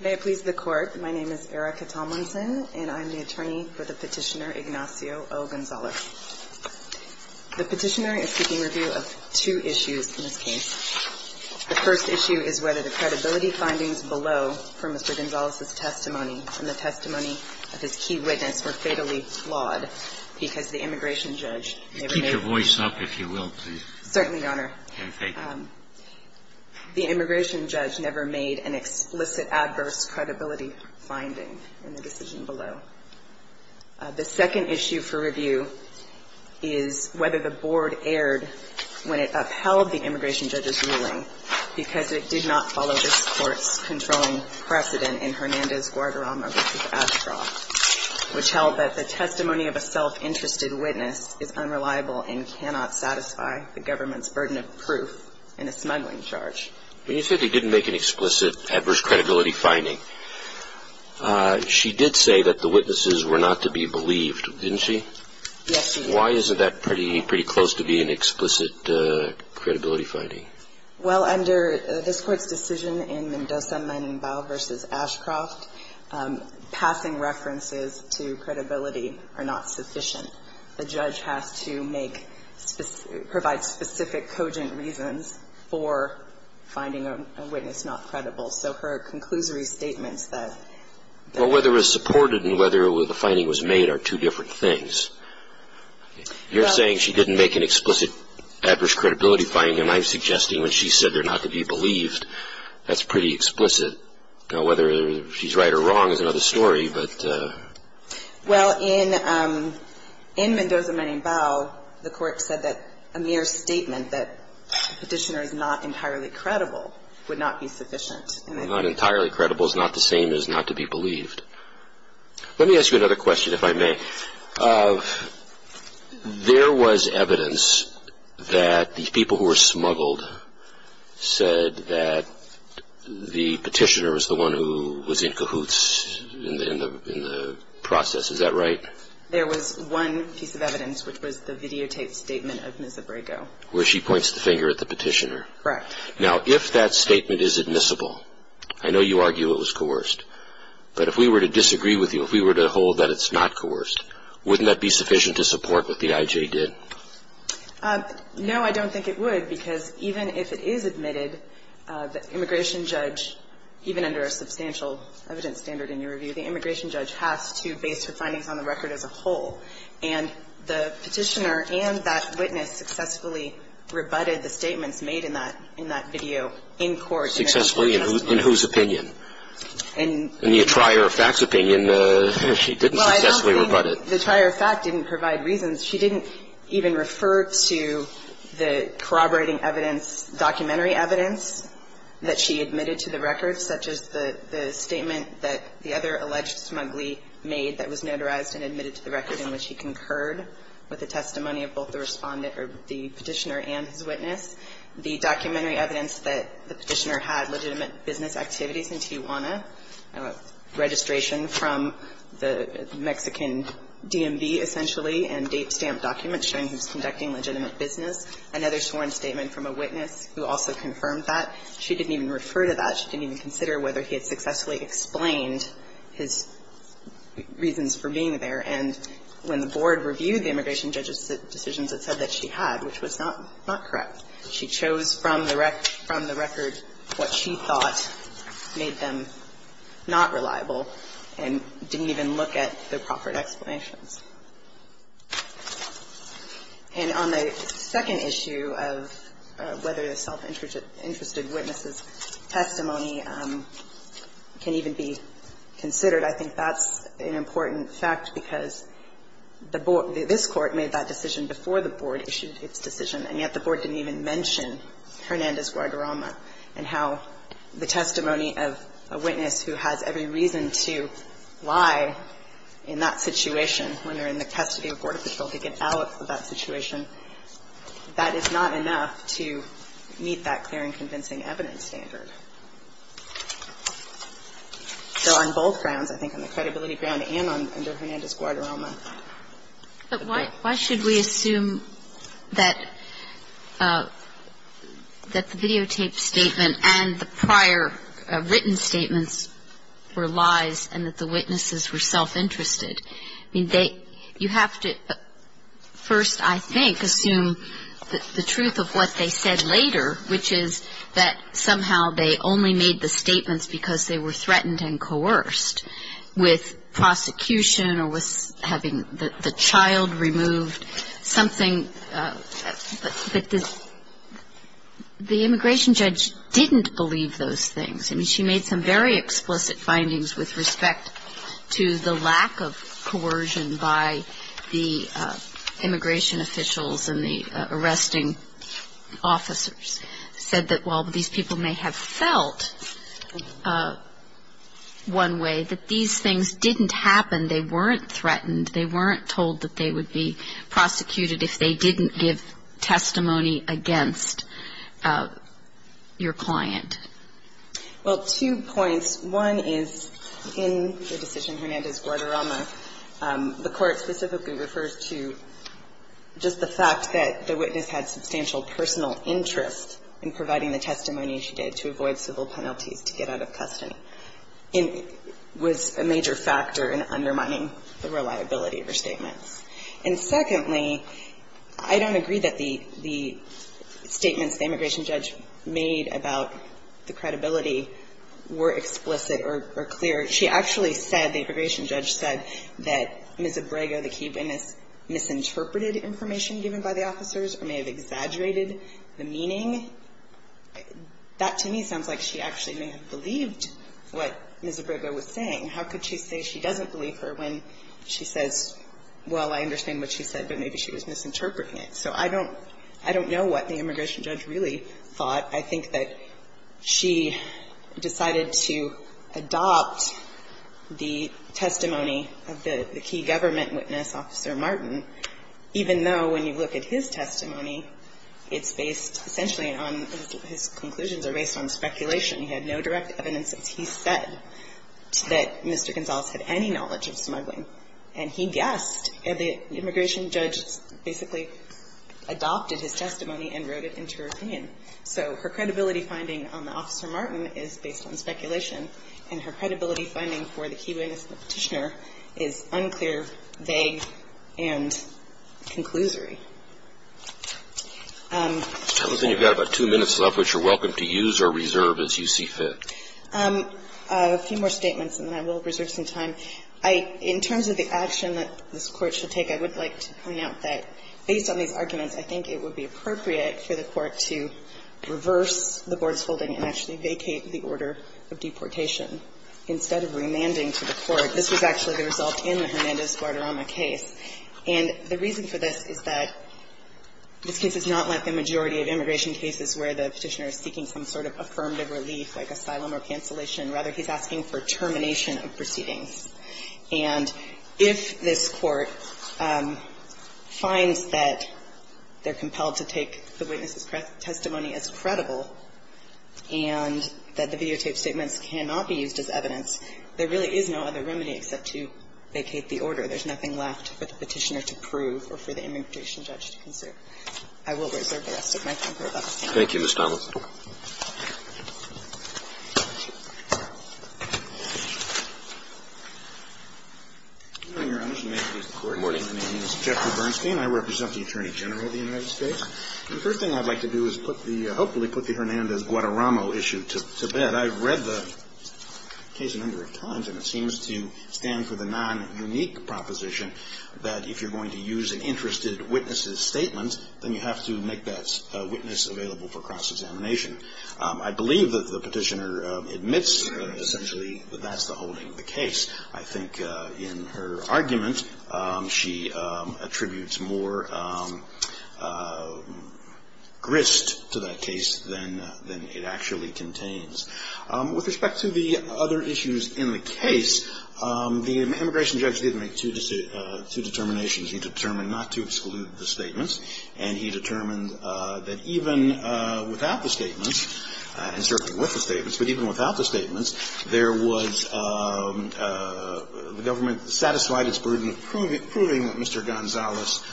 May it please the Court, my name is Erica Tomlinson and I'm the attorney for the petitioner Ignacio O. Gonzalez. The petitioner is seeking review of two issues in this case. The first issue is whether the credibility findings below from Mr. Gonzalez's testimony and the testimony of his key witness were fatally flawed because the immigration judge You keep your voice up, if you will, please. Certainly, Your Honor. And thank you. the immigration judge never made an explicit adverse credibility finding in the decision below. The second issue for review is whether the board erred when it upheld the immigration judge's ruling because it did not follow this Court's controlling precedent in Hernandez-Guadarrama v. Ashcroft, which held that the testimony of a self-interested witness is unreliable and cannot satisfy the government's burden of proof in a smuggling charge. When you say they didn't make an explicit adverse credibility finding, she did say that the witnesses were not to be believed, didn't she? Yes, she did. Why isn't that pretty close to being an explicit credibility finding? Well, under this Court's decision in Mendoza, Menembao v. Ashcroft, passing references to credibility are not sufficient. The judge has to make, provide specific cogent reasons for finding a witness not credible. So her conclusory statements that Well, whether it was supported and whether the finding was made are two different things. You're saying she didn't make an explicit adverse credibility finding, and I'm suggesting when she said they're not to be believed, that's pretty explicit. Whether she's right or wrong is another story, but Well, in Mendoza, Menembao, the Court said that a mere statement that the petitioner is not entirely credible would not be sufficient. Not entirely credible is not the same as not to be believed. Let me ask you another question, if I may. There was evidence that the people who were smuggled said that the petitioner was the one who was in cahoots in the process. Is that right? There was one piece of evidence, which was the videotaped statement of Ms. Abrego. Where she points the finger at the petitioner. Correct. Now, if that statement is admissible, I know you argue it was coerced, but if we were to disagree with you, if we were to hold that it's not coerced, wouldn't that be sufficient to support what the I.J. did? No, I don't think it would, because even if it is admitted, the immigration judge, even under a substantial evidence standard in your review, the immigration judge has to base her findings on the record as a whole. And the petitioner and that witness successfully rebutted the statements made in that video in court. Successfully? In whose opinion? In the attirer of fact's opinion, she didn't successfully rebut it. Well, I don't think the attirer of fact didn't provide reasons. She didn't even refer to the corroborating evidence, documentary evidence, that she admitted to the record, such as the statement that the other alleged smuggler made that was notarized and admitted to the record in which he concurred with the testimony of both the Respondent or the Petitioner and his witness. The documentary evidence that the Petitioner had legitimate business activities in Tijuana, registration from the Mexican DMV, essentially, and date stamp documents showing he was conducting legitimate business, another sworn statement from a witness who also confirmed that, she didn't even refer to that. She didn't even consider whether he had successfully explained his reasons for being there. And when the Board reviewed the immigration judge's decisions, it said that she had, which was not correct. She chose from the record what she thought made them not reliable and didn't even look at the proper explanations. And on the second issue of whether the self-interested witness's testimony can even be considered, I think that's an important fact, because the Board – this Court made that decision before the Board issued its decision, and yet the Board didn't even mention Hernandez-Guadarrama and how the testimony of a witness who has every reason to lie in that situation when they're in the custody of Border Patrol to get out of that situation, that is not enough to meet that clear and convincing evidence standard. So on both grounds, I think, on the credibility ground and under Hernandez-Guadarrama the Board – But why should we assume that the videotape statement and the prior written statements were lies and that the witnesses were self-interested? I mean, they – you have to first, I think, assume the truth of what they said later, which is that somehow they only made the statements because they were threatened and coerced with prosecution or with having the child removed, something – but the immigration judge didn't believe those things. I mean, she made some very explicit findings with respect to the lack of coercion by the immigration officials and the arresting officers, said that while these people may have felt one way, that these things didn't happen, they weren't threatened, they weren't told that they would be prosecuted if they didn't give testimony against your client. Well, two points. One is, in the decision Hernandez-Guadarrama, the Court specifically refers to just the fact that the witness had substantial personal interest in providing the testimony she did to avoid civil penalties to get out of custody. It was a major factor in undermining the reliability of her statements. And secondly, I don't agree that the statements the immigration judge made about the credibility were explicit or clear. She actually said, the immigration judge said, that Ms. Abrego, the key witness, misinterpreted information given by the officers or may have exaggerated the meaning. That, to me, sounds like she actually may have believed what Ms. Abrego was saying. How could she say she doesn't believe her when she says, well, I understand what she said, but maybe she was misinterpreting it? So I don't know what the immigration judge really thought. I think that she decided to adopt the testimony of the key government witness, Officer Martin, even though when you look at his testimony, it's based essentially on his conclusions are based on speculation. He had no direct evidence that he said that Mr. Gonzales had any knowledge of smuggling. And he guessed. And the immigration judge basically adopted his testimony and wrote it into her opinion. So her credibility finding on the Officer Martin is based on speculation. And her credibility finding for the key witness and the Petitioner is unclear, vague, and conclusory. Kennedy, you've got about two minutes left, which you're welcome to use or reserve as you see fit. I have a few more statements, and then I will reserve some time. I – in terms of the action that this Court should take, I would like to point out that based on these arguments, I think it would be appropriate for the Court to reverse the board's holding and actually vacate the order of deportation instead of remanding to the Court. This was actually the result in the Hernandez-Guardarama case. And the reason for this is that this case is not like the majority of immigration cases where the Petitioner is seeking some sort of affirmative relief like asylum or cancellation. Rather, he's asking for termination of proceedings. And if this Court finds that they're compelled to take the witness's testimony as credible and that the videotaped statements cannot be used as evidence, there really is no other remedy except to vacate the order. There's nothing left for the Petitioner to prove or for the immigration judge to consider. I will reserve the rest of my time for about a second. Roberts. Thank you, Ms. Donnell. Good morning, Your Honor. May it please the Court. Good morning. My name is Jeffrey Bernstein. I represent the Attorney General of the United States. The first thing I'd like to do is put the – hopefully put the Hernandez-Guardarama issue to bed. I've read the case a number of times, and it seems to stand for the non-unique proposition that if you're going to use an interested witness's statement, then you have to make that witness available for cross-examination. I believe that the Petitioner admits essentially that that's the holding of the case. I think in her argument, she attributes more grist to that case than it actually contains. With respect to the other issues in the case, the immigration judge did make two determinations. He determined not to exclude the statements, and he determined that even without the statements, and certainly with the statements, but even without the statements, there was – the government satisfied its burden of proving that Mr. Gonzales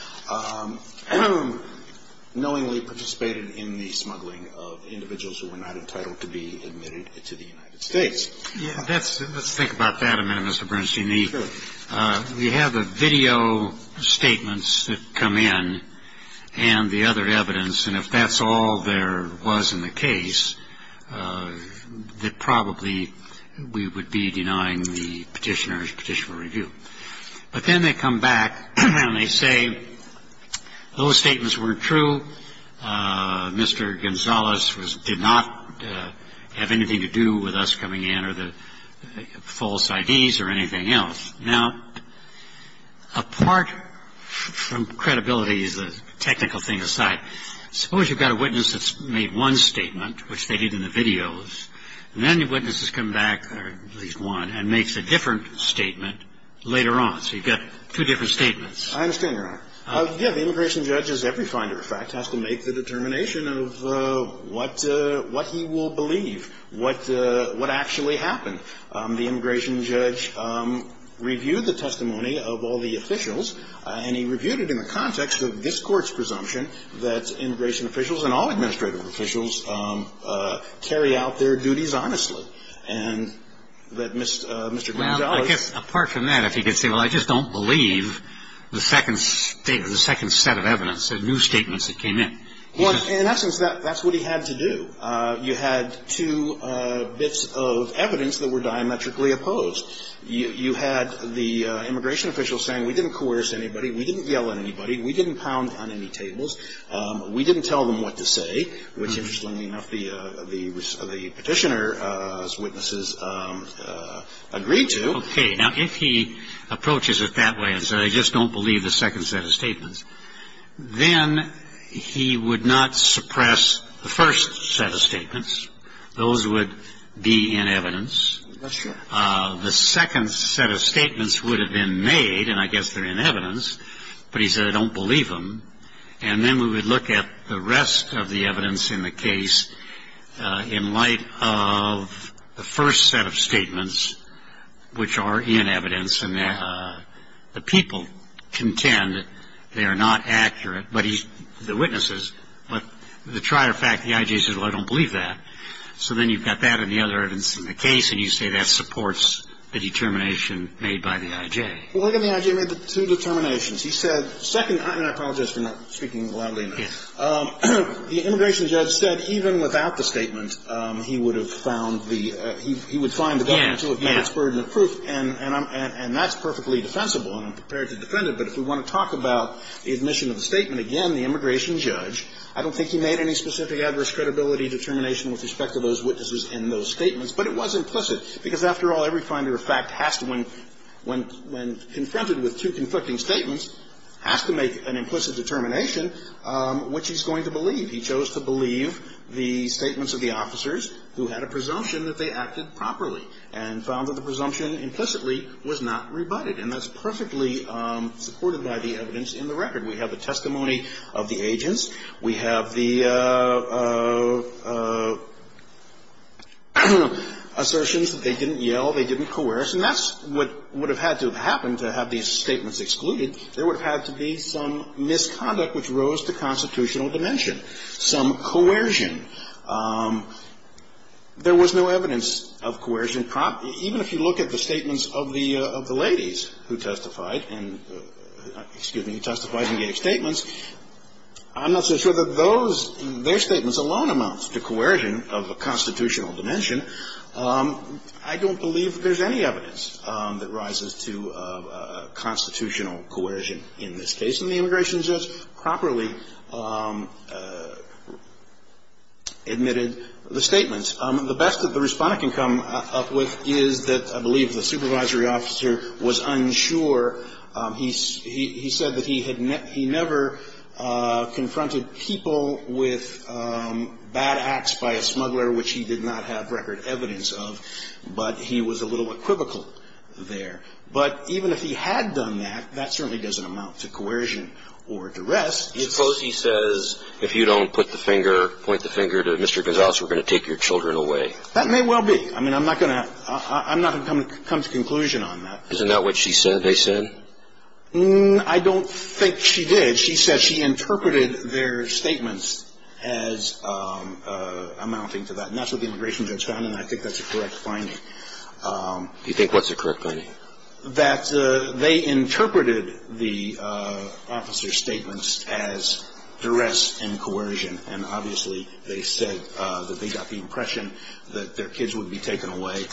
knowingly participated in the smuggling of individuals who were not entitled to be admitted to the United States. Yeah, that's – let's think about that a minute, Mr. Bernstein. Sure. We have the video statements that come in and the other evidence, and if that's all there was in the case, that probably we would be denying the Petitioner's petitioner review. But then they come back and they say those statements weren't true, Mr. Gonzales did not have anything to do with us coming in or the false IDs or anything else. Now, apart from credibility as a technical thing aside, suppose you've got a witness that's made one statement, which they did in the videos, and then the witness has come back, or at least one, and makes a different statement later on. So you've got two different statements. I understand, Your Honor. Yeah, the immigration judge, as every finder, in fact, has to make the determination of what he will believe, what actually happened. The immigration judge reviewed the testimony of all the officials, and he reviewed it in the context of this Court's presumption that immigration officials and all administrative officials carry out their duties honestly, and that Mr. Gonzales I guess, apart from that, if he could say, well, I just don't believe the second statement, the second set of evidence, the new statements that came in. Well, in essence, that's what he had to do. You had two bits of evidence that were diametrically opposed. You had the immigration official saying we didn't coerce anybody, we didn't yell at anybody, we didn't pound on any tables, we didn't tell them what to say, which, I think, is a reasonable argument, and I think it's reasonable enough that the petitioner's witnesses agreed to. Okay. Now, if he approaches it that way and says I just don't believe the second set of statements, then he would not suppress the first set of statements. Those would be in evidence. That's true. The second set of statements would have been made, and I guess they're in evidence, but he said I don't believe them. And then we would look at the rest of the evidence in the case in light of the first set of statements, which are in evidence, and the people contend they are not accurate, but the witnesses, but the trier fact, the I.J. says, well, I don't believe that. So then you've got that and the other evidence in the case, and you say that supports the determination made by the I.J. Well, look at the I.J. made the two determinations. He said, second, and I apologize for not speaking loudly enough. The immigration judge said even without the statement, he would have found the he would find the government to have met its burden of proof, and that's perfectly defensible and I'm prepared to defend it, but if we want to talk about the admission of the statement again, the immigration judge, I don't think he made any specific adverse credibility determination with respect to those witnesses in those statements, but it was implicit because after all, every finder of fact has to, when confronted with two conflicting statements, has to make an implicit determination which he's going to believe. He chose to believe the statements of the officers who had a presumption that they acted properly and found that the presumption implicitly was not rebutted, and that's perfectly supported by the evidence in the record. We have the testimony of the agents. We have the assertions that they didn't yell, they didn't coerce, and that's what would have had to have happened to have these statements excluded. There would have had to be some misconduct which rose to constitutional dimension, some coercion. There was no evidence of coercion. Even if you look at the statements of the ladies who testified and gave statements, I'm not so sure that those, their statements alone amounts to coercion of a constitutional dimension. I don't believe that there's any evidence that rises to constitutional coercion in this case, and the immigration judge properly admitted the statements. The best that the Respondent can come up with is that I believe the supervisory officer was unsure. He said that he had never confronted people with bad acts by a smuggler, which he did not have record evidence of, but he was a little equivocal there. But even if he had done that, that certainly doesn't amount to coercion or duress. Suppose he says, if you don't put the finger, point the finger to Mr. Gonzales, we're going to take your children away. That may well be. I mean, I'm not going to come to conclusion on that. Isn't that what she said they said? I don't think she did. She said she interpreted their statements as amounting to that, and that's what the immigration judge found, and I think that's a correct finding. Do you think what's a correct finding? That they interpreted the officer's statements as duress and coercion, and obviously they said that they got the impression that their kids would be taken away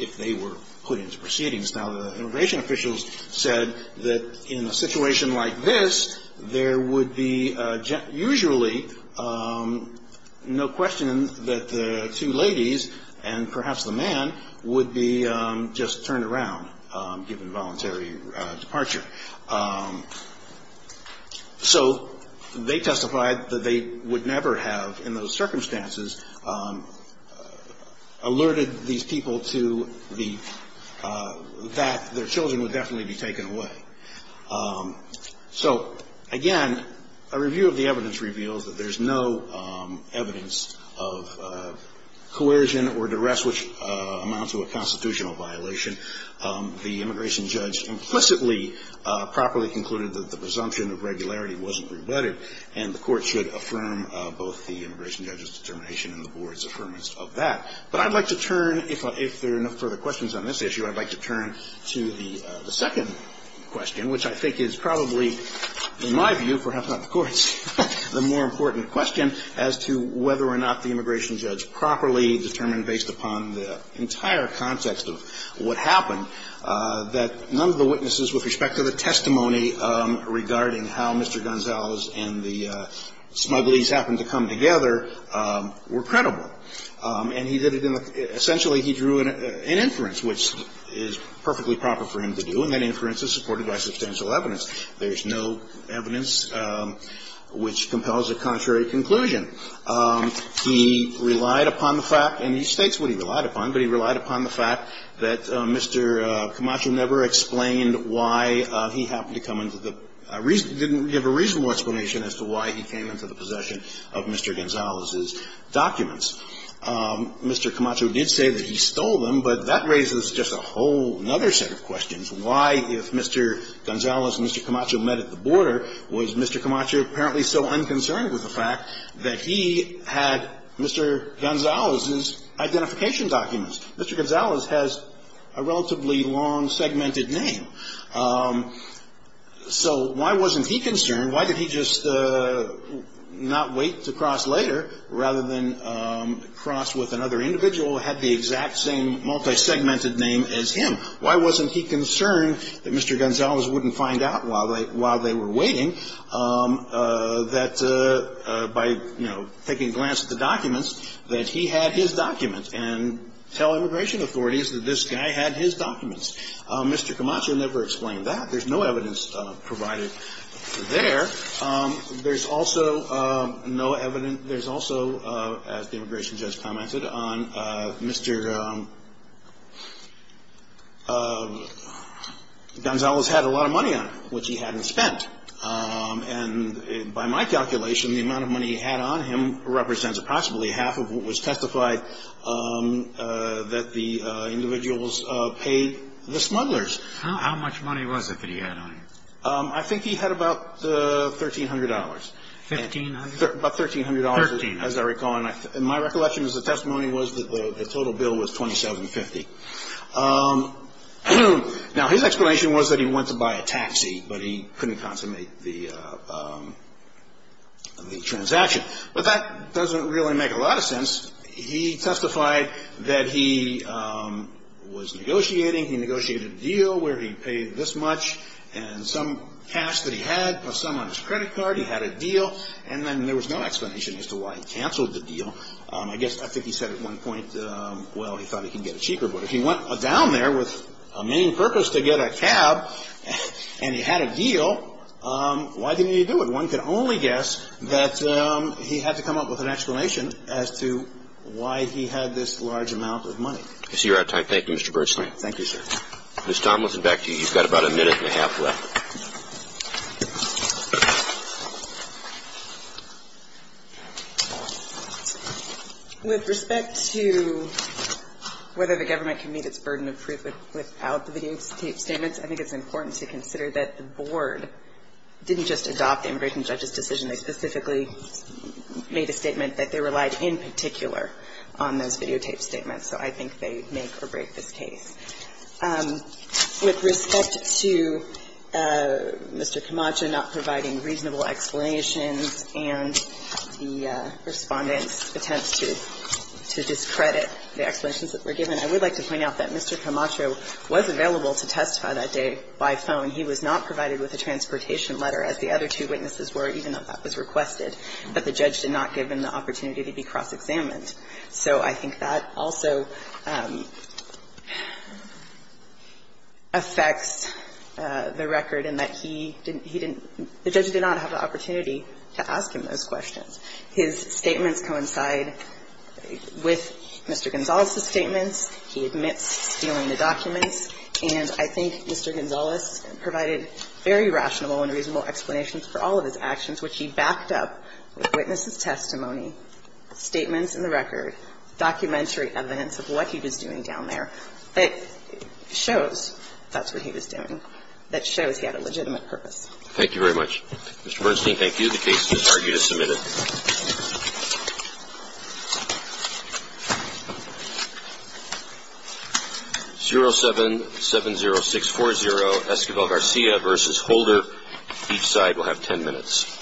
if they were put into proceedings. Now, the immigration officials said that in a situation like this, there would be usually no question that the two ladies and perhaps the man would be just turned around, given voluntary departure. So they testified that they would never have, in those circumstances, alerted these people to the, that their children would definitely be taken away. So, again, a review of the evidence reveals that there's no evidence of coercion or duress which amounts to a constitutional violation. The immigration judge implicitly properly concluded that the presumption of regularity wasn't rebutted, and the Court should affirm both the immigration judge's determination and the Board's affirmance of that. But I'd like to turn, if there are no further questions on this issue, I'd like to turn to the second question, which I think is probably, in my view, perhaps not the Court's, the more important question as to whether or not the immigration judge properly determined, based upon the entire context of what happened, that none of the witnesses, with respect to the testimony regarding how Mr. Gonzales and the smugglies happened to come together, were credible. And he did it in the – essentially, he drew an inference, which is perfectly proper for him to do, and that inference is supported by substantial evidence. There's no evidence which compels a contrary conclusion. He relied upon the fact, and he states what he relied upon, but he relied upon the fact that Mr. Camacho never explained why he happened to come into the – didn't give a reasonable explanation as to why he came into the possession of Mr. Gonzales' documents. Mr. Camacho did say that he stole them, but that raises just a whole other set of questions. Why, if Mr. Gonzales and Mr. Camacho met at the border, was Mr. Camacho apparently so unconcerned with the fact that he had Mr. Gonzales' identification documents? Mr. Gonzales has a relatively long segmented name. So why wasn't he concerned? Why did he just not wait to cross later, rather than cross with another individual who had the exact same multi-segmented name as him? Why wasn't he concerned that Mr. Gonzales wouldn't find out while they were waiting that, by, you know, taking a glance at the documents, that he had his documents and tell immigration authorities that this guy had his documents? Mr. Camacho never explained that. There's no evidence provided there. There's also no evidence – there's also, as the immigration judge commented, on Mr. Gonzales had a lot of money on him, which he hadn't spent. And by my calculation, the amount of money he had on him represents possibly half of what was testified that the individuals paid the smugglers. How much money was it that he had on him? I think he had about $1,300. $1,500? About $1,300. $1,300. As I recall. And my recollection as a testimony was that the total bill was $2,750. Now, his explanation was that he went to buy a taxi, but he couldn't consummate the transaction. But that doesn't really make a lot of sense. He testified that he was negotiating. He negotiated a deal where he paid this much and some cash that he had, put some on his credit card. He had a deal. And then there was no explanation as to why he canceled the deal. I guess I think he said at one point, well, he thought he could get it cheaper. But if he went down there with a main purpose to get a cab and he had a deal, why didn't he do it? So one could only guess that he had to come up with an explanation as to why he had this large amount of money. I see you're out of time. Thank you, Mr. Bergelein. Thank you, sir. Ms. Tomlinson, back to you. You've got about a minute and a half left. With respect to whether the government can meet its burden of proof without the videotaped statements, I think it's important to consider that the board didn't just adopt the immigration judge's decision. They specifically made a statement that they relied in particular on those videotaped statements, so I think they make or break this case. With respect to Mr. Camacho not providing reasonable explanations and the Respondent's attempts to discredit the explanations that were given, I would like to point out that Mr. Camacho was available to testify that day by phone. He was not provided with a transportation letter, as the other two witnesses were, even though that was requested. But the judge did not give him the opportunity to be cross-examined. So I think that also affects the record in that he didn't – he didn't – the judge did not have the opportunity to ask him those questions. His statements coincide with Mr. Gonzalez's statements. He admits stealing the documents. And I think Mr. Gonzalez provided very rational and reasonable explanations for all of his actions, which he backed up with witness's testimony, statements in the record, documentary evidence of what he was doing down there that shows that's what he was doing, that shows he had a legitimate purpose. Thank you very much. Mr. Bernstein, thank you. The case is argued as submitted. 0770640, Esquivel Garcia v. Holder. Each side will have 10 minutes.